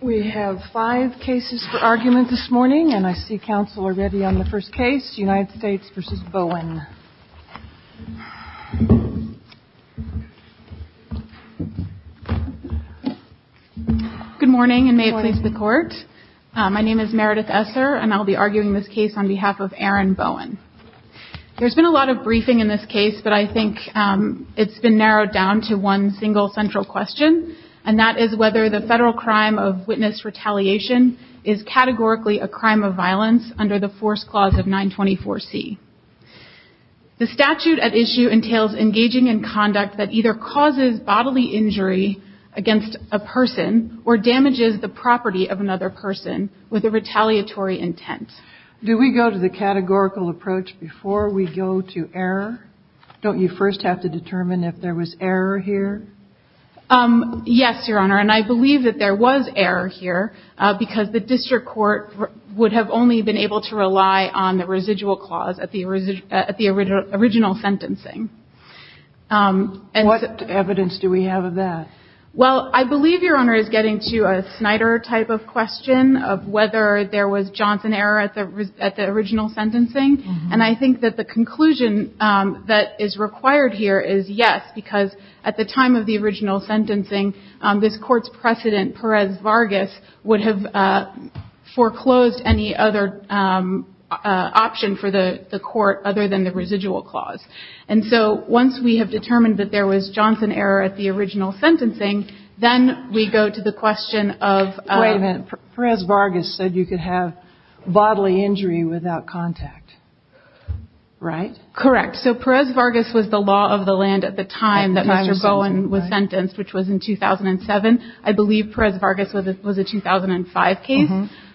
Good morning and may it please the court. My name is Meredith Esser and I'll be arguing this case on behalf of Aaron Bowen. There's been a lot of briefing in this case but I think it's been narrowed down to one single central question and that is whether the federal crime of witness retaliation is categorically a crime of violence under the Force Clause of 924C. The statute at issue entails engaging in conduct that either causes bodily injury against a person or damages the property of another person with a retaliatory intent. Do we go to the categorical approach before we go to error? Don't you first have to determine if there was error here? Yes, Your Honor, and I believe that there was error here because the district court would have only been able to rely on the residual clause at the original sentencing. What evidence do we have of that? Well, I believe Your Honor is getting to a Snyder type of question of whether there was Johnson error at the original sentencing. And I think that the conclusion that is required here is yes, because at the time of the original sentencing, this court's precedent, Perez-Vargas, would have foreclosed any other option for the court other than the residual clause. And so once we have determined that there was Johnson error at the original sentencing, then we go to the question of... Wait a minute. Perez-Vargas said you could have bodily injury without contact, right? Correct. So Perez-Vargas was the law of the land at the time that Mr. Bowen was sentenced, which was in 2007. I believe Perez-Vargas was a 2005 case.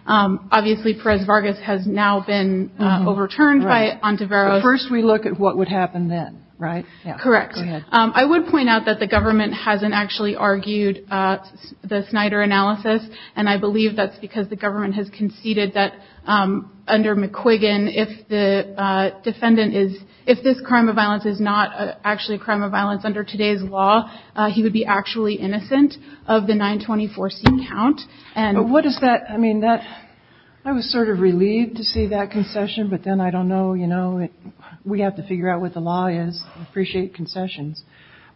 Obviously, Perez-Vargas has now been overturned by Ontiveros. But first we look at what would happen then, right? Correct. I would point out that the government hasn't actually argued the Snyder analysis, and I believe that's because the government has conceded that under McQuiggan, if the defendant is – if this crime of violence is not actually a crime of violence under today's law, he would be actually innocent of the 924C count. But what does that – I mean, that – I was sort of relieved to see that concession, but then I don't know, you know, we have to figure out what the law is. I appreciate concessions.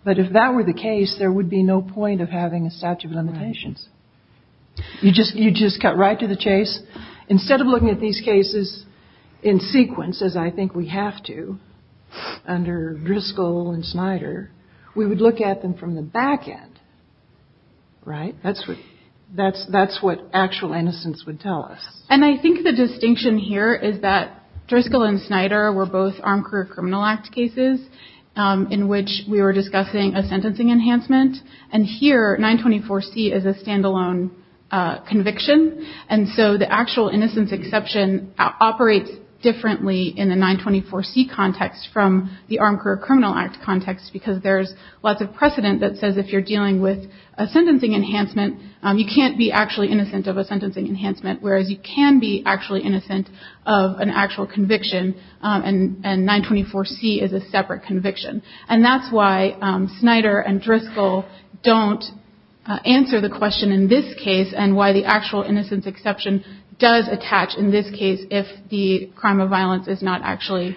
But if that were the case, there would be no point of having a statute of limitations. You just cut right to the chase. Instead of looking at these cases in sequence, as I think we have to under Driscoll and Snyder, we would look at them from the back end, right? That's what actual innocence would tell us. And I think the distinction here is that Driscoll and Snyder were both Armed Career Criminal Act cases in which we were discussing a sentencing enhancement. And here, 924C is a standalone conviction, and so the actual innocence exception operates differently in the 924C context from the Armed Career Criminal Act context because there's lots of precedent that says if you're dealing with a sentencing enhancement, you can't be actually innocent of a sentencing enhancement, whereas you can be actually innocent of an actual conviction, and 924C is a separate conviction. And that's why Snyder and Driscoll don't answer the question in this case and why the actual innocence exception does attach in this case if the crime of violence is not actually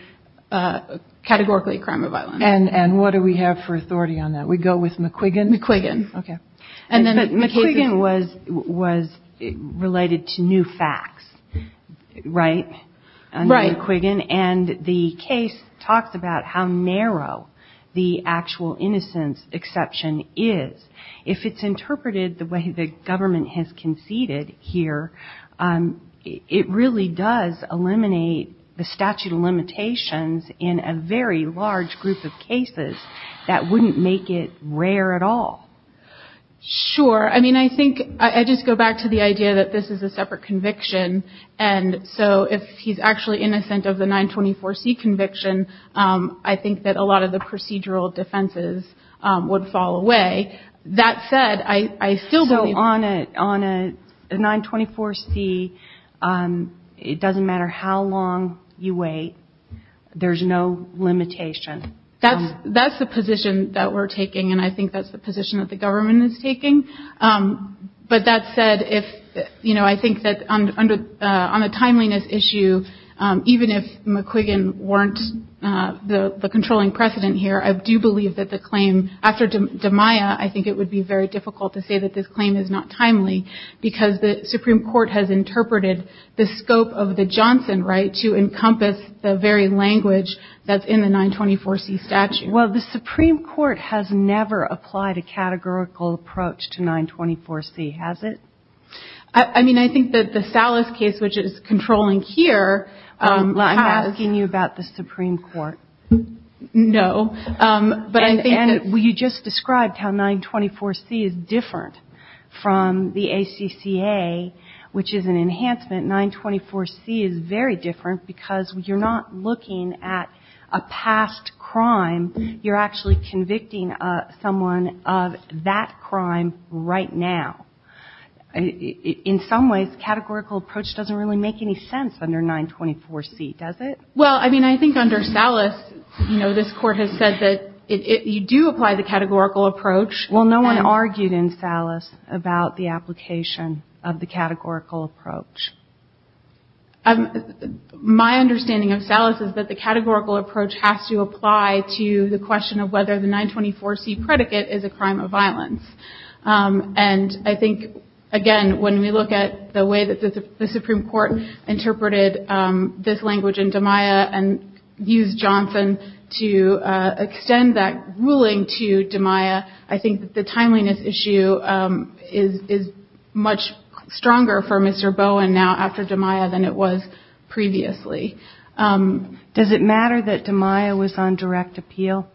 categorically a crime of violence. And what do we have for authority on that? Do we go with McQuiggan? McQuiggan. Okay. McQuiggan was related to new facts, right? Right. McQuiggan. And the case talks about how narrow the actual innocence exception is. If it's interpreted the way the government has conceded here, it really does eliminate the statute of limitations in a very large group of cases that wouldn't make it rare at all. Sure. I mean, I think I just go back to the idea that this is a separate conviction, and so if he's actually innocent of the 924C conviction, I think that a lot of the procedural defenses would fall away. That said, I still believe that. So on a 924C, it doesn't matter how long you wait. There's no limitation. That's the position that we're taking, and I think that's the position that the government is taking. But that said, I think that on a timeliness issue, even if McQuiggan weren't the controlling precedent here, I do believe that the claim after DeMaia, I think it would be very difficult to say that this claim is not timely, because the Supreme Court has interpreted the scope of the Johnson right to encompass the very language that's in the 924C statute. Well, the Supreme Court has never applied a categorical approach to 924C, has it? I mean, I think that the Salas case, which is controlling here, has. I'm asking you about the Supreme Court. No, but I think that. And you just described how 924C is different from the ACCA, which is an enhancement. 924C is very different because you're not looking at a past crime. You're actually convicting someone of that crime right now. In some ways, categorical approach doesn't really make any sense under 924C, does it? Well, I mean, I think under Salas, you know, this Court has said that you do apply the categorical approach. Well, no one argued in Salas about the application of the categorical approach. My understanding of Salas is that the categorical approach has to apply to the question of whether the 924C predicate is a crime of violence. And I think, again, when we look at the way that the Supreme Court interpreted this language in DiMaia and used Johnson to extend that ruling to DiMaia, I think that the timeliness issue is much stronger for Mr. Bowen now after DiMaia than it was previously. Does it matter that DiMaia was on direct appeal?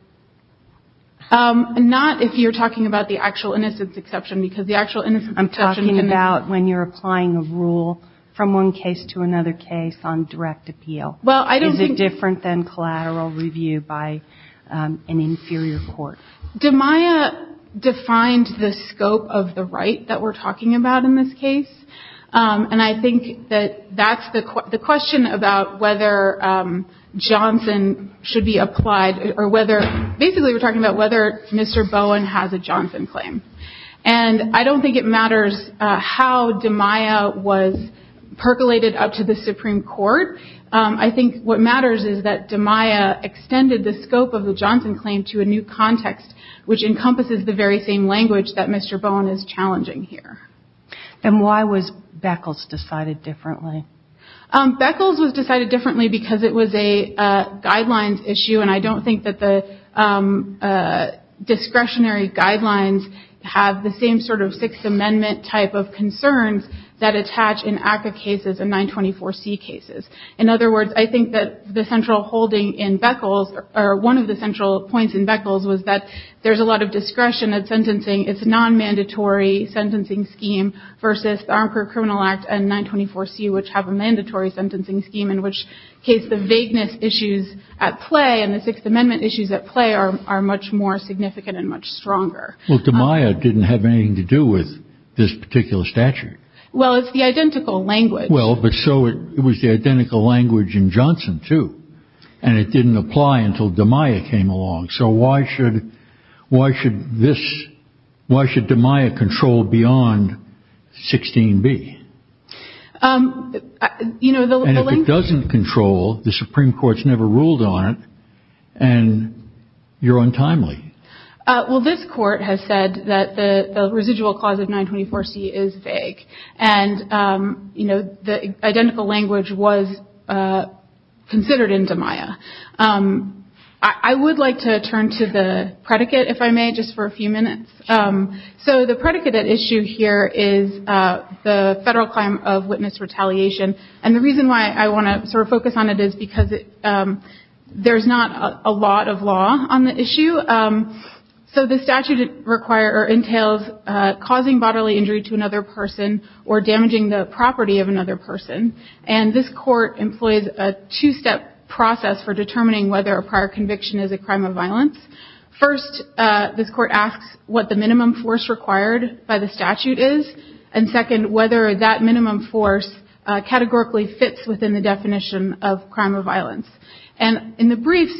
Not if you're talking about the actual innocence exception, because the actual innocence I'm talking about when you're applying a rule from one case to another case on direct appeal. Is it different than collateral review by an inferior court? DiMaia defined the scope of the right that we're talking about in this case, and I think that that's the question about whether Johnson should be applied or whether – basically, we're talking about whether Mr. Bowen has a Johnson claim. And I don't think it matters how DiMaia was percolated up to the Supreme Court. I think what matters is that DiMaia extended the scope of the Johnson claim to a new context, which encompasses the very same language that Mr. Bowen is challenging here. And why was Beckles decided differently? Beckles was decided differently because it was a guidelines issue, and I don't think that the discretionary guidelines have the same sort of Sixth Amendment type of concerns that attach in ACCA cases and 924C cases. In other words, I think that the central holding in Beckles – or one of the central points in Beckles was that there's a lot of discretion at sentencing. It's a non-mandatory sentencing scheme versus the Armed Career Criminal Act and 924C, which have a mandatory sentencing scheme in which case the vagueness issues at play in the Sixth Amendment issues at play are much more significant and much stronger. Well, DiMaia didn't have anything to do with this particular statute. Well, it's the identical language. Well, but so – it was the identical language in Johnson, too. And it didn't apply until DiMaia came along. So why should – why should this – why should DiMaia control beyond 16b? You know, the – The Supreme Court doesn't control. The Supreme Court's never ruled on it. And you're untimely. Well, this Court has said that the residual clause of 924C is vague. And, you know, the identical language was considered in DiMaia. I would like to turn to the predicate, if I may, just for a few minutes. So the predicate at issue here is the federal claim of witness retaliation. And the reason why I want to sort of focus on it is because there's not a lot of law on the issue. So the statute require – or entails causing bodily injury to another person or damaging the property of another person. And this Court employs a two-step process for determining whether a prior conviction is a crime of violence. First, this Court asks what the minimum force required by the statute is. And, second, whether that minimum force categorically fits within the definition of crime of violence. And in the briefs,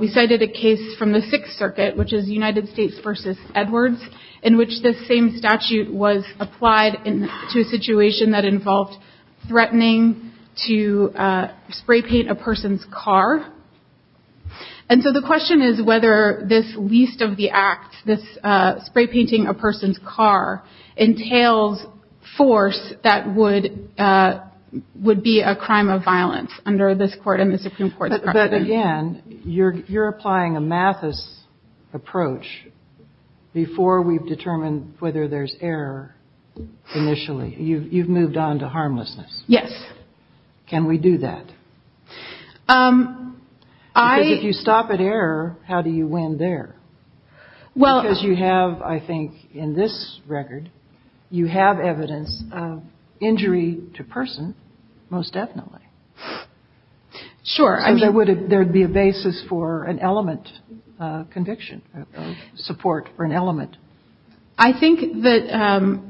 we cited a case from the Sixth Circuit, which is United States v. Edwards, in which this same statute was applied to a situation that involved threatening to spray paint a person's car. And so the question is whether this least of the acts, this spray painting a person's car, entails force that would be a crime of violence under this Court and the Supreme Court's precedent. But, again, you're applying a Mathis approach before we've determined whether there's error initially. You've moved on to harmlessness. Yes. Can we do that? Because if you stop at error, how do you win there? Because you have, I think, in this record, you have evidence of injury to person most definitely. Sure. So there would be a basis for an element conviction, support for an element. I think that,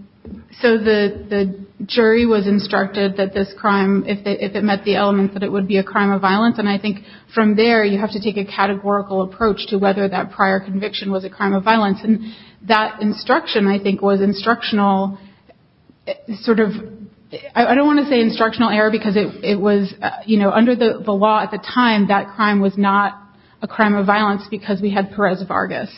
so the jury was instructed that this crime, if it met the element, that it would be a crime of violence. And I think from there, you have to take a categorical approach to whether that prior conviction was a crime of violence. And that instruction, I think, was instructional, sort of, I don't want to say instructional error, because it was, you know, under the law at the time, that crime was not a crime of violence because we had Perez Vargas.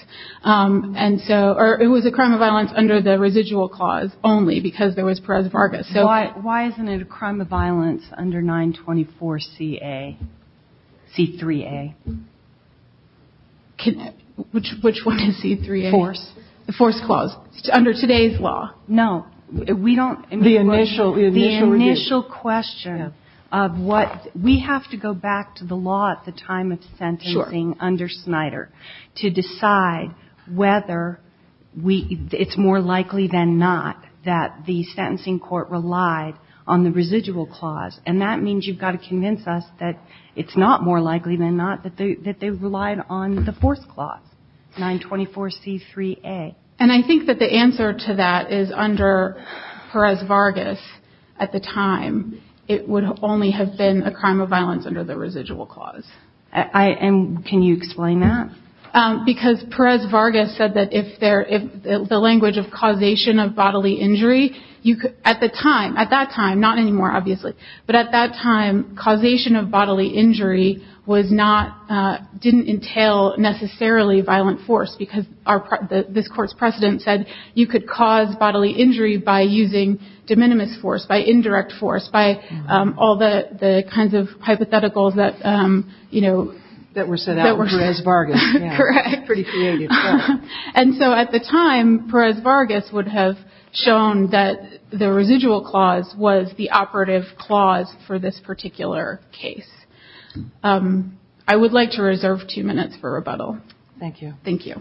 And so, or it was a crime of violence under the residual clause only because there was Perez Vargas. Why isn't it a crime of violence under 924CA, C3A? Which one is C3A? Force. The force clause, under today's law. No. We don't. The initial review. The initial question of what, we have to go back to the law at the time of sentencing under Snyder. To decide whether it's more likely than not that the sentencing court relied on the residual clause. And that means you've got to convince us that it's not more likely than not that they relied on the force clause, 924C3A. And I think that the answer to that is under Perez Vargas at the time, it would only have been a crime of violence under the residual clause. And can you explain that? Because Perez Vargas said that if the language of causation of bodily injury, at the time, at that time, not anymore, obviously. But at that time, causation of bodily injury didn't entail necessarily violent force. Because this court's precedent said you could cause bodily injury by using de minimis force, by indirect force, by all the kinds of hypotheticals that, you know. That were set out in Perez Vargas. Correct. Pretty creative. And so at the time, Perez Vargas would have shown that the residual clause was the operative clause for this particular case. I would like to reserve two minutes for rebuttal. Thank you. Thank you.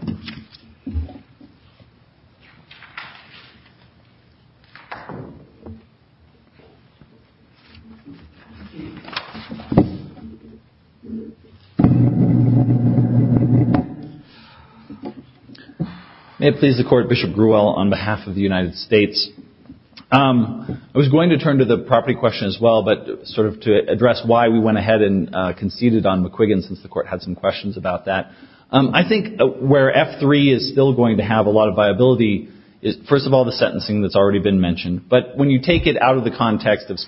May it please the court, Bishop Grewell, on behalf of the United States. I was going to turn to the property question as well, but sort of to address why we went ahead and conceded on McQuiggan, since the court had some questions about that. I think where F3 is still going to have a lot of viability is, first of all, the sentencing that's already been mentioned. But when you take it out of the context of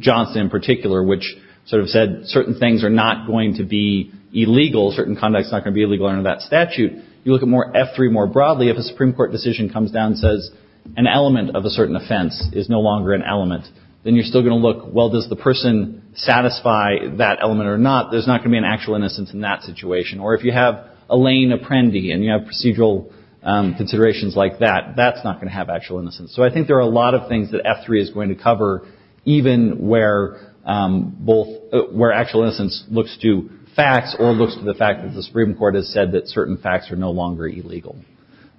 Johnson in particular, which sort of said certain things are not going to be illegal, certain conduct is not going to be illegal under that statute, you look at F3 more broadly. If a Supreme Court decision comes down and says an element of a certain offense is no longer an element, then you're still going to look, well, does the person satisfy that element or not? There's not going to be an actual innocence in that situation. Or if you have Elaine Apprendi and you have procedural considerations like that, that's not going to have actual innocence. So I think there are a lot of things that F3 is going to cover, even where actual innocence looks to facts or looks to the fact that the Supreme Court has said that certain facts are no longer illegal.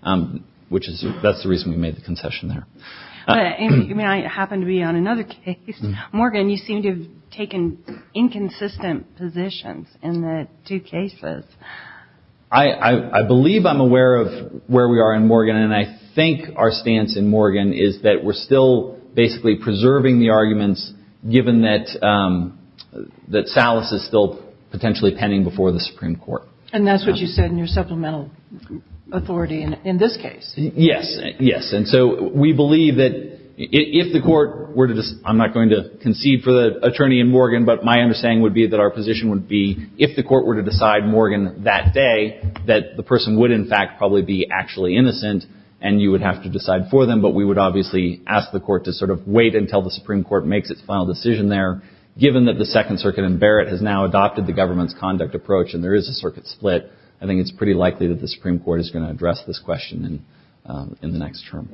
That's the reason we made the concession there. I happen to be on another case. Morgan, you seem to have taken inconsistent positions in the two cases. I believe I'm aware of where we are in Morgan, and I think our stance in Morgan is that we're still basically preserving the arguments, given that Salas is still potentially pending before the Supreme Court. And that's what you said in your supplemental authority in this case. Yes, yes. And so we believe that if the court were to – I'm not going to concede for the attorney in Morgan, but my understanding would be that our position would be if the court were to decide Morgan that day, that the person would in fact probably be actually innocent and you would have to decide for them. But we would obviously ask the court to sort of wait until the Supreme Court makes its final decision there. Given that the Second Circuit in Barrett has now adopted the government's conduct approach and there is a circuit split, I think it's pretty likely that the Supreme Court is going to address this question in the next term.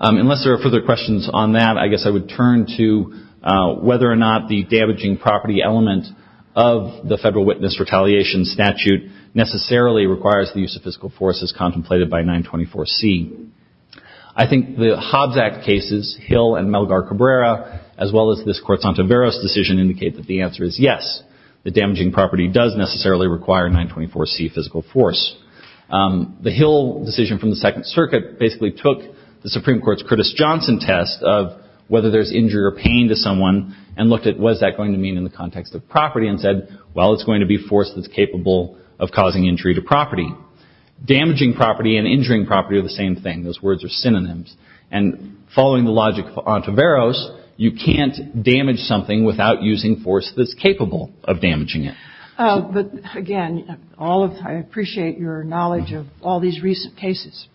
Unless there are further questions on that, I guess I would turn to whether or not the damaging property element of the Federal Witness Retaliation Statute necessarily requires the use of physical force as contemplated by 924C. I think the Hobbs Act cases, Hill and Melgar-Cabrera, as well as this Cortzantoveros decision indicate that the answer is yes. The damaging property does necessarily require 924C physical force. The Hill decision from the Second Circuit basically took the Supreme Court's Curtis Johnson test of whether there's injury or pain to someone and looked at what is that going to mean in the context of property and said, well, it's going to be force that's capable of causing injury to property. Damaging property and injuring property are the same thing. Those words are synonyms. And following the logic of Cortzantoveros, you can't damage something without using force that's capable of damaging it. But, again, I appreciate your knowledge of all these recent cases.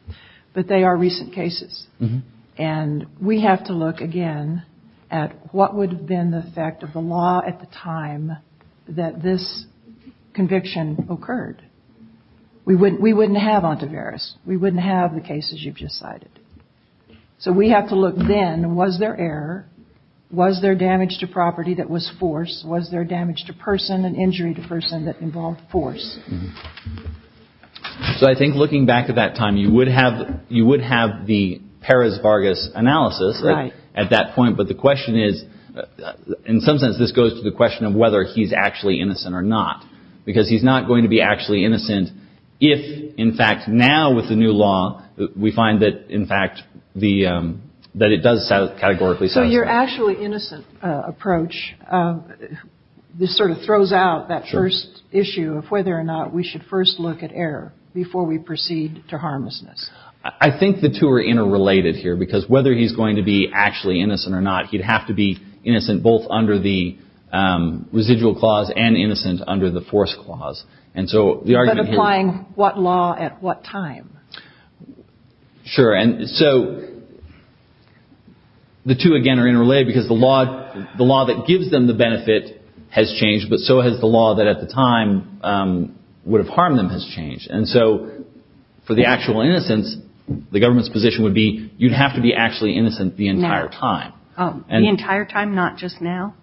But they are recent cases. And we have to look again at what would have been the effect of the law at the time that this conviction occurred. We wouldn't have ontoveros. We wouldn't have the cases you've just cited. So we have to look then, was there error? Was there damage to property that was force? Was there damage to person and injury to person that involved force? So I think looking back at that time, you would have the Peres-Vargas analysis at that point. But the question is, in some sense, this goes to the question of whether he's actually innocent or not, because he's not going to be actually innocent if, in fact, now with the new law, we find that, in fact, that it does categorically satisfy. Your actually innocent approach, this sort of throws out that first issue of whether or not we should first look at error before we proceed to harmlessness. I think the two are interrelated here, because whether he's going to be actually innocent or not, he'd have to be innocent both under the residual clause and innocent under the force clause. But applying what law at what time? Sure. And so the two, again, are interrelated, because the law that gives them the benefit has changed, but so has the law that at the time would have harmed them has changed. And so for the actual innocence, the government's position would be you'd have to be actually innocent the entire time. The entire time, not just now?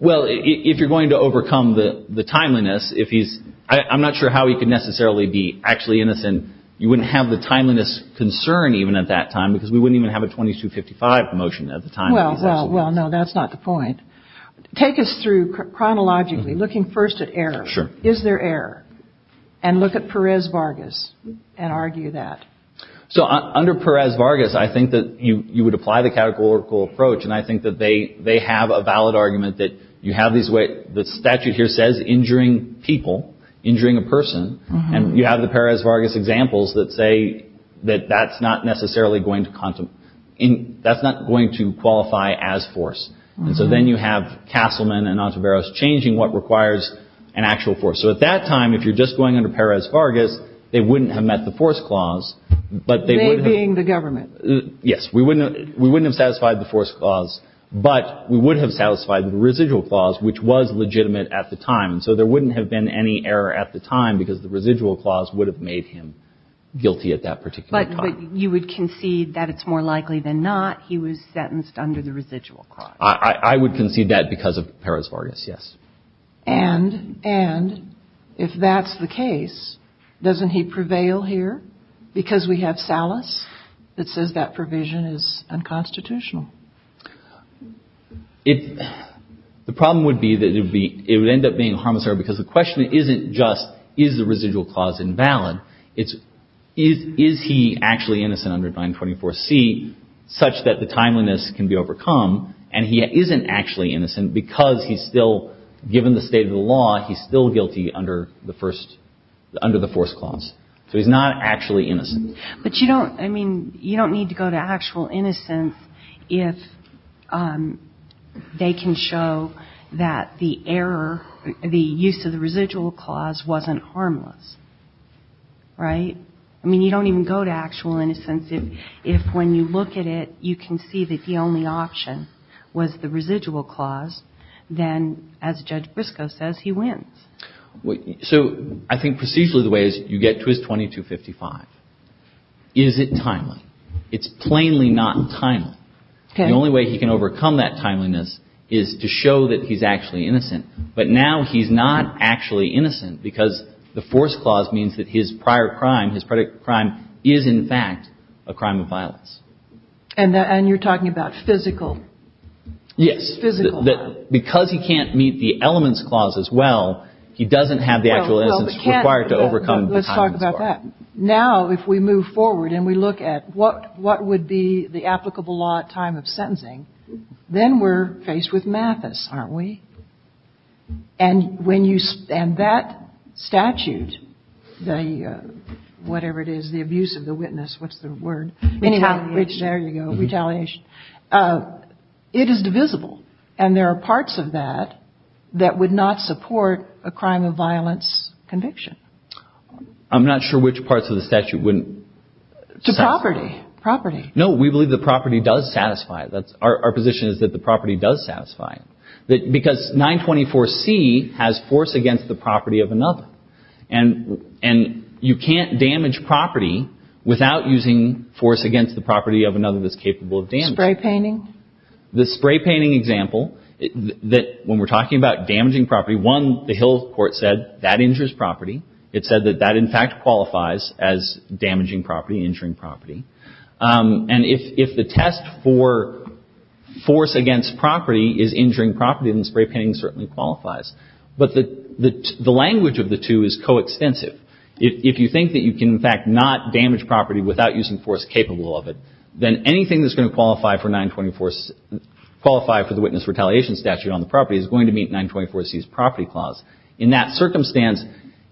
Well, if you're going to overcome the timeliness, if he's – I'm not sure how he could necessarily be actually innocent. You wouldn't have the timeliness concern even at that time, because we wouldn't even have a 2255 motion at the time. Well, no, that's not the point. Take us through chronologically, looking first at error. Sure. Is there error? And look at Perez-Vargas and argue that. So under Perez-Vargas, I think that you would apply the categorical approach, and I think that they have a valid argument that you have these – the statute here says injuring people, injuring a person. And you have the Perez-Vargas examples that say that that's not necessarily going to – that's not going to qualify as force. And so then you have Castleman and Ontiveros changing what requires an actual force. So at that time, if you're just going under Perez-Vargas, they wouldn't have met the force clause, but they would have – They being the government. Yes. We wouldn't have satisfied the force clause, but we would have satisfied the residual clause, which was legitimate at the time. So there wouldn't have been any error at the time because the residual clause would have made him guilty at that particular time. But you would concede that it's more likely than not he was sentenced under the residual clause. I would concede that because of Perez-Vargas, yes. And if that's the case, doesn't he prevail here because we have Salas that says that provision is unconstitutional? It – the problem would be that it would be – it would end up being a harmless error because the question isn't just is the residual clause invalid. It's is he actually innocent under 924C such that the timeliness can be overcome and he isn't actually innocent because he's still – given the state of the law, he's still guilty under the first – under the force clause. So he's not actually innocent. But you don't – I mean, you don't need to go to actual innocence if they can show that the error – the use of the residual clause wasn't harmless. Right? I mean, you don't even go to actual innocence if when you look at it, you can see that the only option was the residual clause. Then, as Judge Briscoe says, he wins. So I think procedurally the way is you get to his 2255. Is it timely? It's plainly not timely. The only way he can overcome that timeliness is to show that he's actually innocent. But now he's not actually innocent because the force clause means that his prior crime, his predicted crime, is in fact a crime of violence. And you're talking about physical? Yes. Physical. Well, that – because he can't meet the elements clause as well, he doesn't have the actual innocence required to overcome the timeliness bar. Let's talk about that. Now, if we move forward and we look at what would be the applicable law at time of sentencing, then we're faced with Mathis, aren't we? And when you – and that statute, the – whatever it is, the abuse of the witness, what's the word? Retaliation. There you go. Retaliation. It is divisible. And there are parts of that that would not support a crime of violence conviction. I'm not sure which parts of the statute wouldn't. To property. Property. No, we believe the property does satisfy it. That's – our position is that the property does satisfy it. Because 924C has force against the property of another. And you can't damage property without using force against the property of another that's capable of damage. Spray painting. The spray painting example that – when we're talking about damaging property, one, the Hill court said that injures property. It said that that, in fact, qualifies as damaging property, injuring property. And if the test for force against property is injuring property, then spray painting certainly qualifies. But the language of the two is coextensive. If you think that you can, in fact, not damage property without using force capable of it, then anything that's going to qualify for 924 – qualify for the witness retaliation statute on the property is going to meet 924C's property clause. In that circumstance,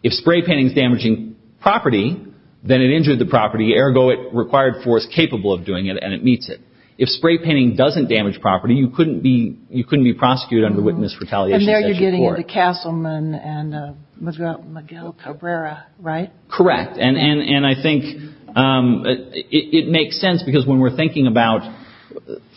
if spray painting is damaging property, then it injured the property. Ergo, it required force capable of doing it, and it meets it. If spray painting doesn't damage property, you couldn't be – you couldn't be prosecuted under witness retaliation statute. And there you're getting into Castleman and Miguel Cabrera, right? Correct. And I think it makes sense because when we're thinking about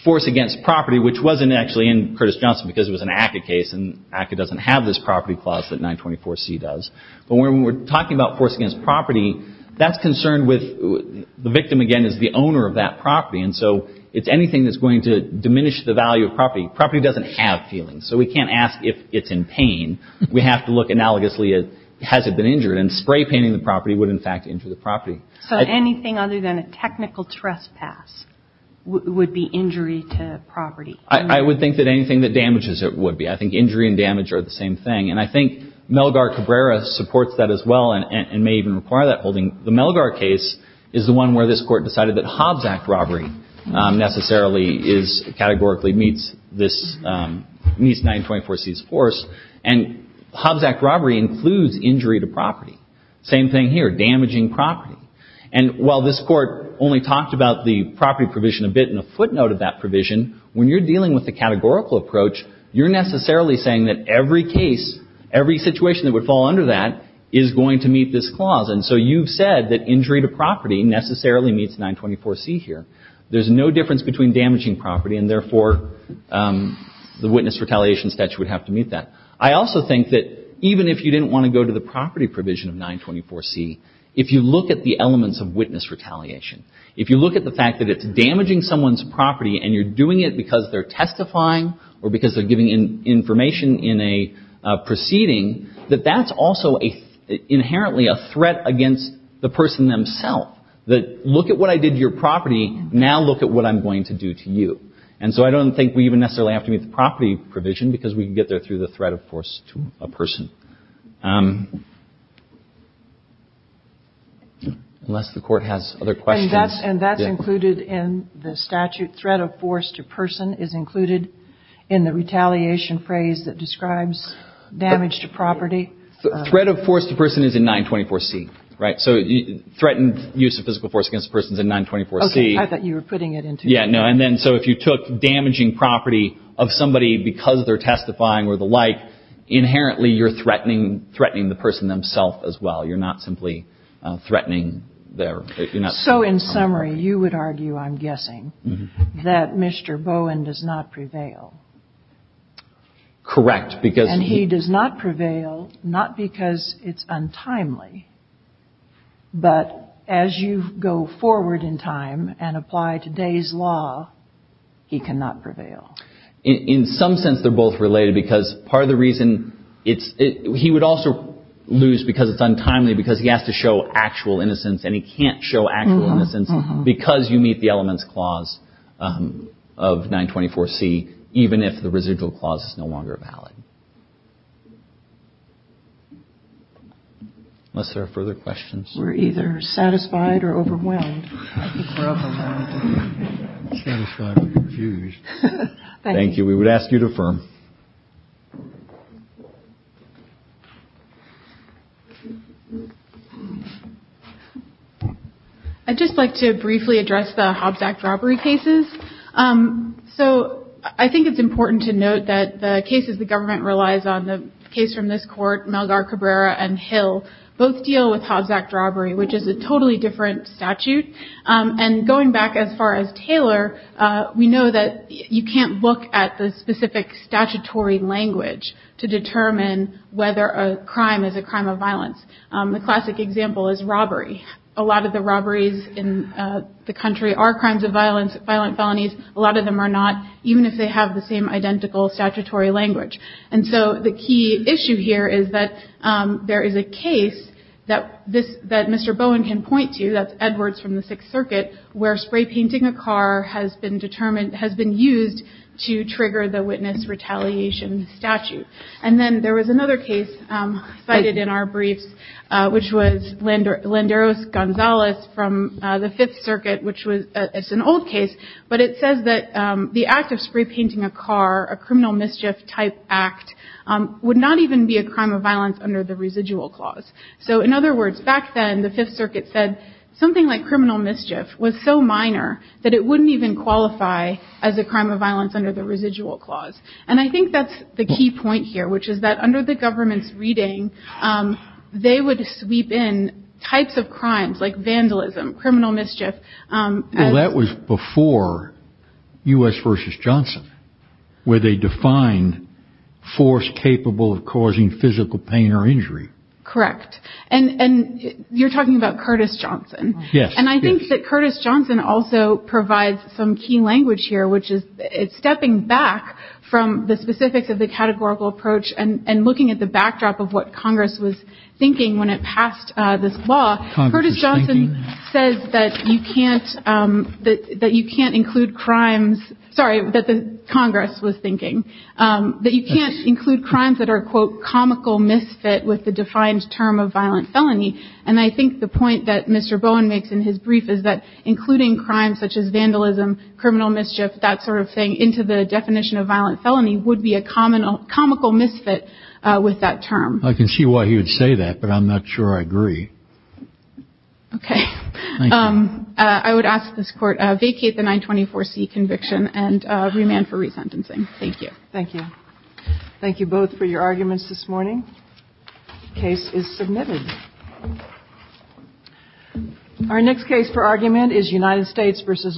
force against property, which wasn't actually in Curtis Johnson because it was an ACCA case, and ACCA doesn't have this property clause that 924C does. But when we're talking about force against property, that's concerned with – the victim, again, is the owner of that property. And so it's anything that's going to diminish the value of property. Property doesn't have feelings. So we can't ask if it's in pain. We have to look analogously at has it been injured. And spray painting the property would, in fact, injure the property. So anything other than a technical trespass would be injury to property? I would think that anything that damages it would be. I think injury and damage are the same thing. And I think Melgar Cabrera supports that as well and may even require that holding. The Melgar case is the one where this Court decided that Hobbs Act robbery necessarily is – categorically meets this – meets 924C's force. And Hobbs Act robbery includes injury to property. Same thing here, damaging property. And while this Court only talked about the property provision a bit in a footnote of that provision, when you're dealing with the categorical approach, you're necessarily saying that every case, every situation that would fall under that is going to meet this clause. And so you've said that injury to property necessarily meets 924C here. There's no difference between damaging property and, therefore, the witness retaliation statute would have to meet that. I also think that even if you didn't want to go to the property provision of 924C, if you look at the elements of witness retaliation, if you look at the fact that it's damaging someone's property and you're doing it because they're testifying or because they're giving information in a proceeding, that that's also inherently a threat against the person themselves. Look at what I did to your property. Now look at what I'm going to do to you. And so I don't think we even necessarily have to meet the property provision because we can get there through the threat of force to a person. Unless the Court has other questions. And that's included in the statute. Threat of force to person is included in the retaliation phrase that describes damage to property. Threat of force to person is in 924C, right? So threatened use of physical force against a person is in 924C. Okay. I thought you were putting it into. Yeah, no. And then so if you took damaging property of somebody because they're testifying or the like, inherently you're threatening the person themselves as well. You're not simply threatening their – So in summary, you would argue, I'm guessing, that Mr. Bowen does not prevail. Correct, because – And he does not prevail not because it's untimely, but as you go forward in time and apply today's law, he cannot prevail. In some sense they're both related because part of the reason it's – he would also lose because it's untimely because he has to show actual innocence and he can't show actual innocence because you meet the elements clause of 924C, even if the residual clause is no longer valid. Unless there are further questions. We're either satisfied or overwhelmed. Satisfied or confused. Thank you. We would ask you to affirm. I'd just like to briefly address the Hobbs Act robbery cases. So I think it's important to note that the cases the government relies on, the case from this court, Malgar Cabrera and Hill, both deal with Hobbs Act robbery, which is a totally different statute. And going back as far as Taylor, we know that you can't look at the specific statutory language to determine whether a crime is a crime of violence. The classic example is robbery. A lot of the robberies in the country are crimes of violence, violent felonies. A lot of them are not, even if they have the same identical statutory language. And so the key issue here is that there is a case that Mr. Bowen can point to, that's Edwards from the Sixth Circuit, where spray painting a car has been used to trigger the witness retaliation statute. And then there was another case cited in our briefs, which was Landeros-Gonzalez from the Fifth Circuit, which is an old case. But it says that the act of spray painting a car, a criminal mischief type act, would not even be a crime of violence under the residual clause. So in other words, back then, the Fifth Circuit said something like criminal mischief was so minor that it wouldn't even qualify as a crime of violence under the residual clause. And I think that's the key point here, which is that under the government's reading, they would sweep in types of crimes like vandalism, criminal mischief. Well, that was before U.S. v. Johnson, where they defined force capable of causing physical pain or injury. Correct. And you're talking about Curtis Johnson. Yes. And I think that Curtis Johnson also provides some key language here, which is stepping back from the specifics of the categorical approach and looking at the backdrop of what Congress was thinking when it passed this law. Curtis Johnson says that you can't that you can't include crimes. Sorry that the Congress was thinking that you can't include crimes that are, quote, comical misfit with the defined term of violent felony. And I think the point that Mr. Bowen makes in his brief is that including crimes such as vandalism, criminal mischief, that sort of thing into the definition of violent felony would be a common comical misfit with that term. I can see why he would say that, but I'm not sure I agree. OK. I would ask this court vacate the 924 C conviction and remand for resentencing. Thank you. Thank you. Thank you both for your arguments this morning. Case is submitted. Our next case for argument is United States versus Lopez.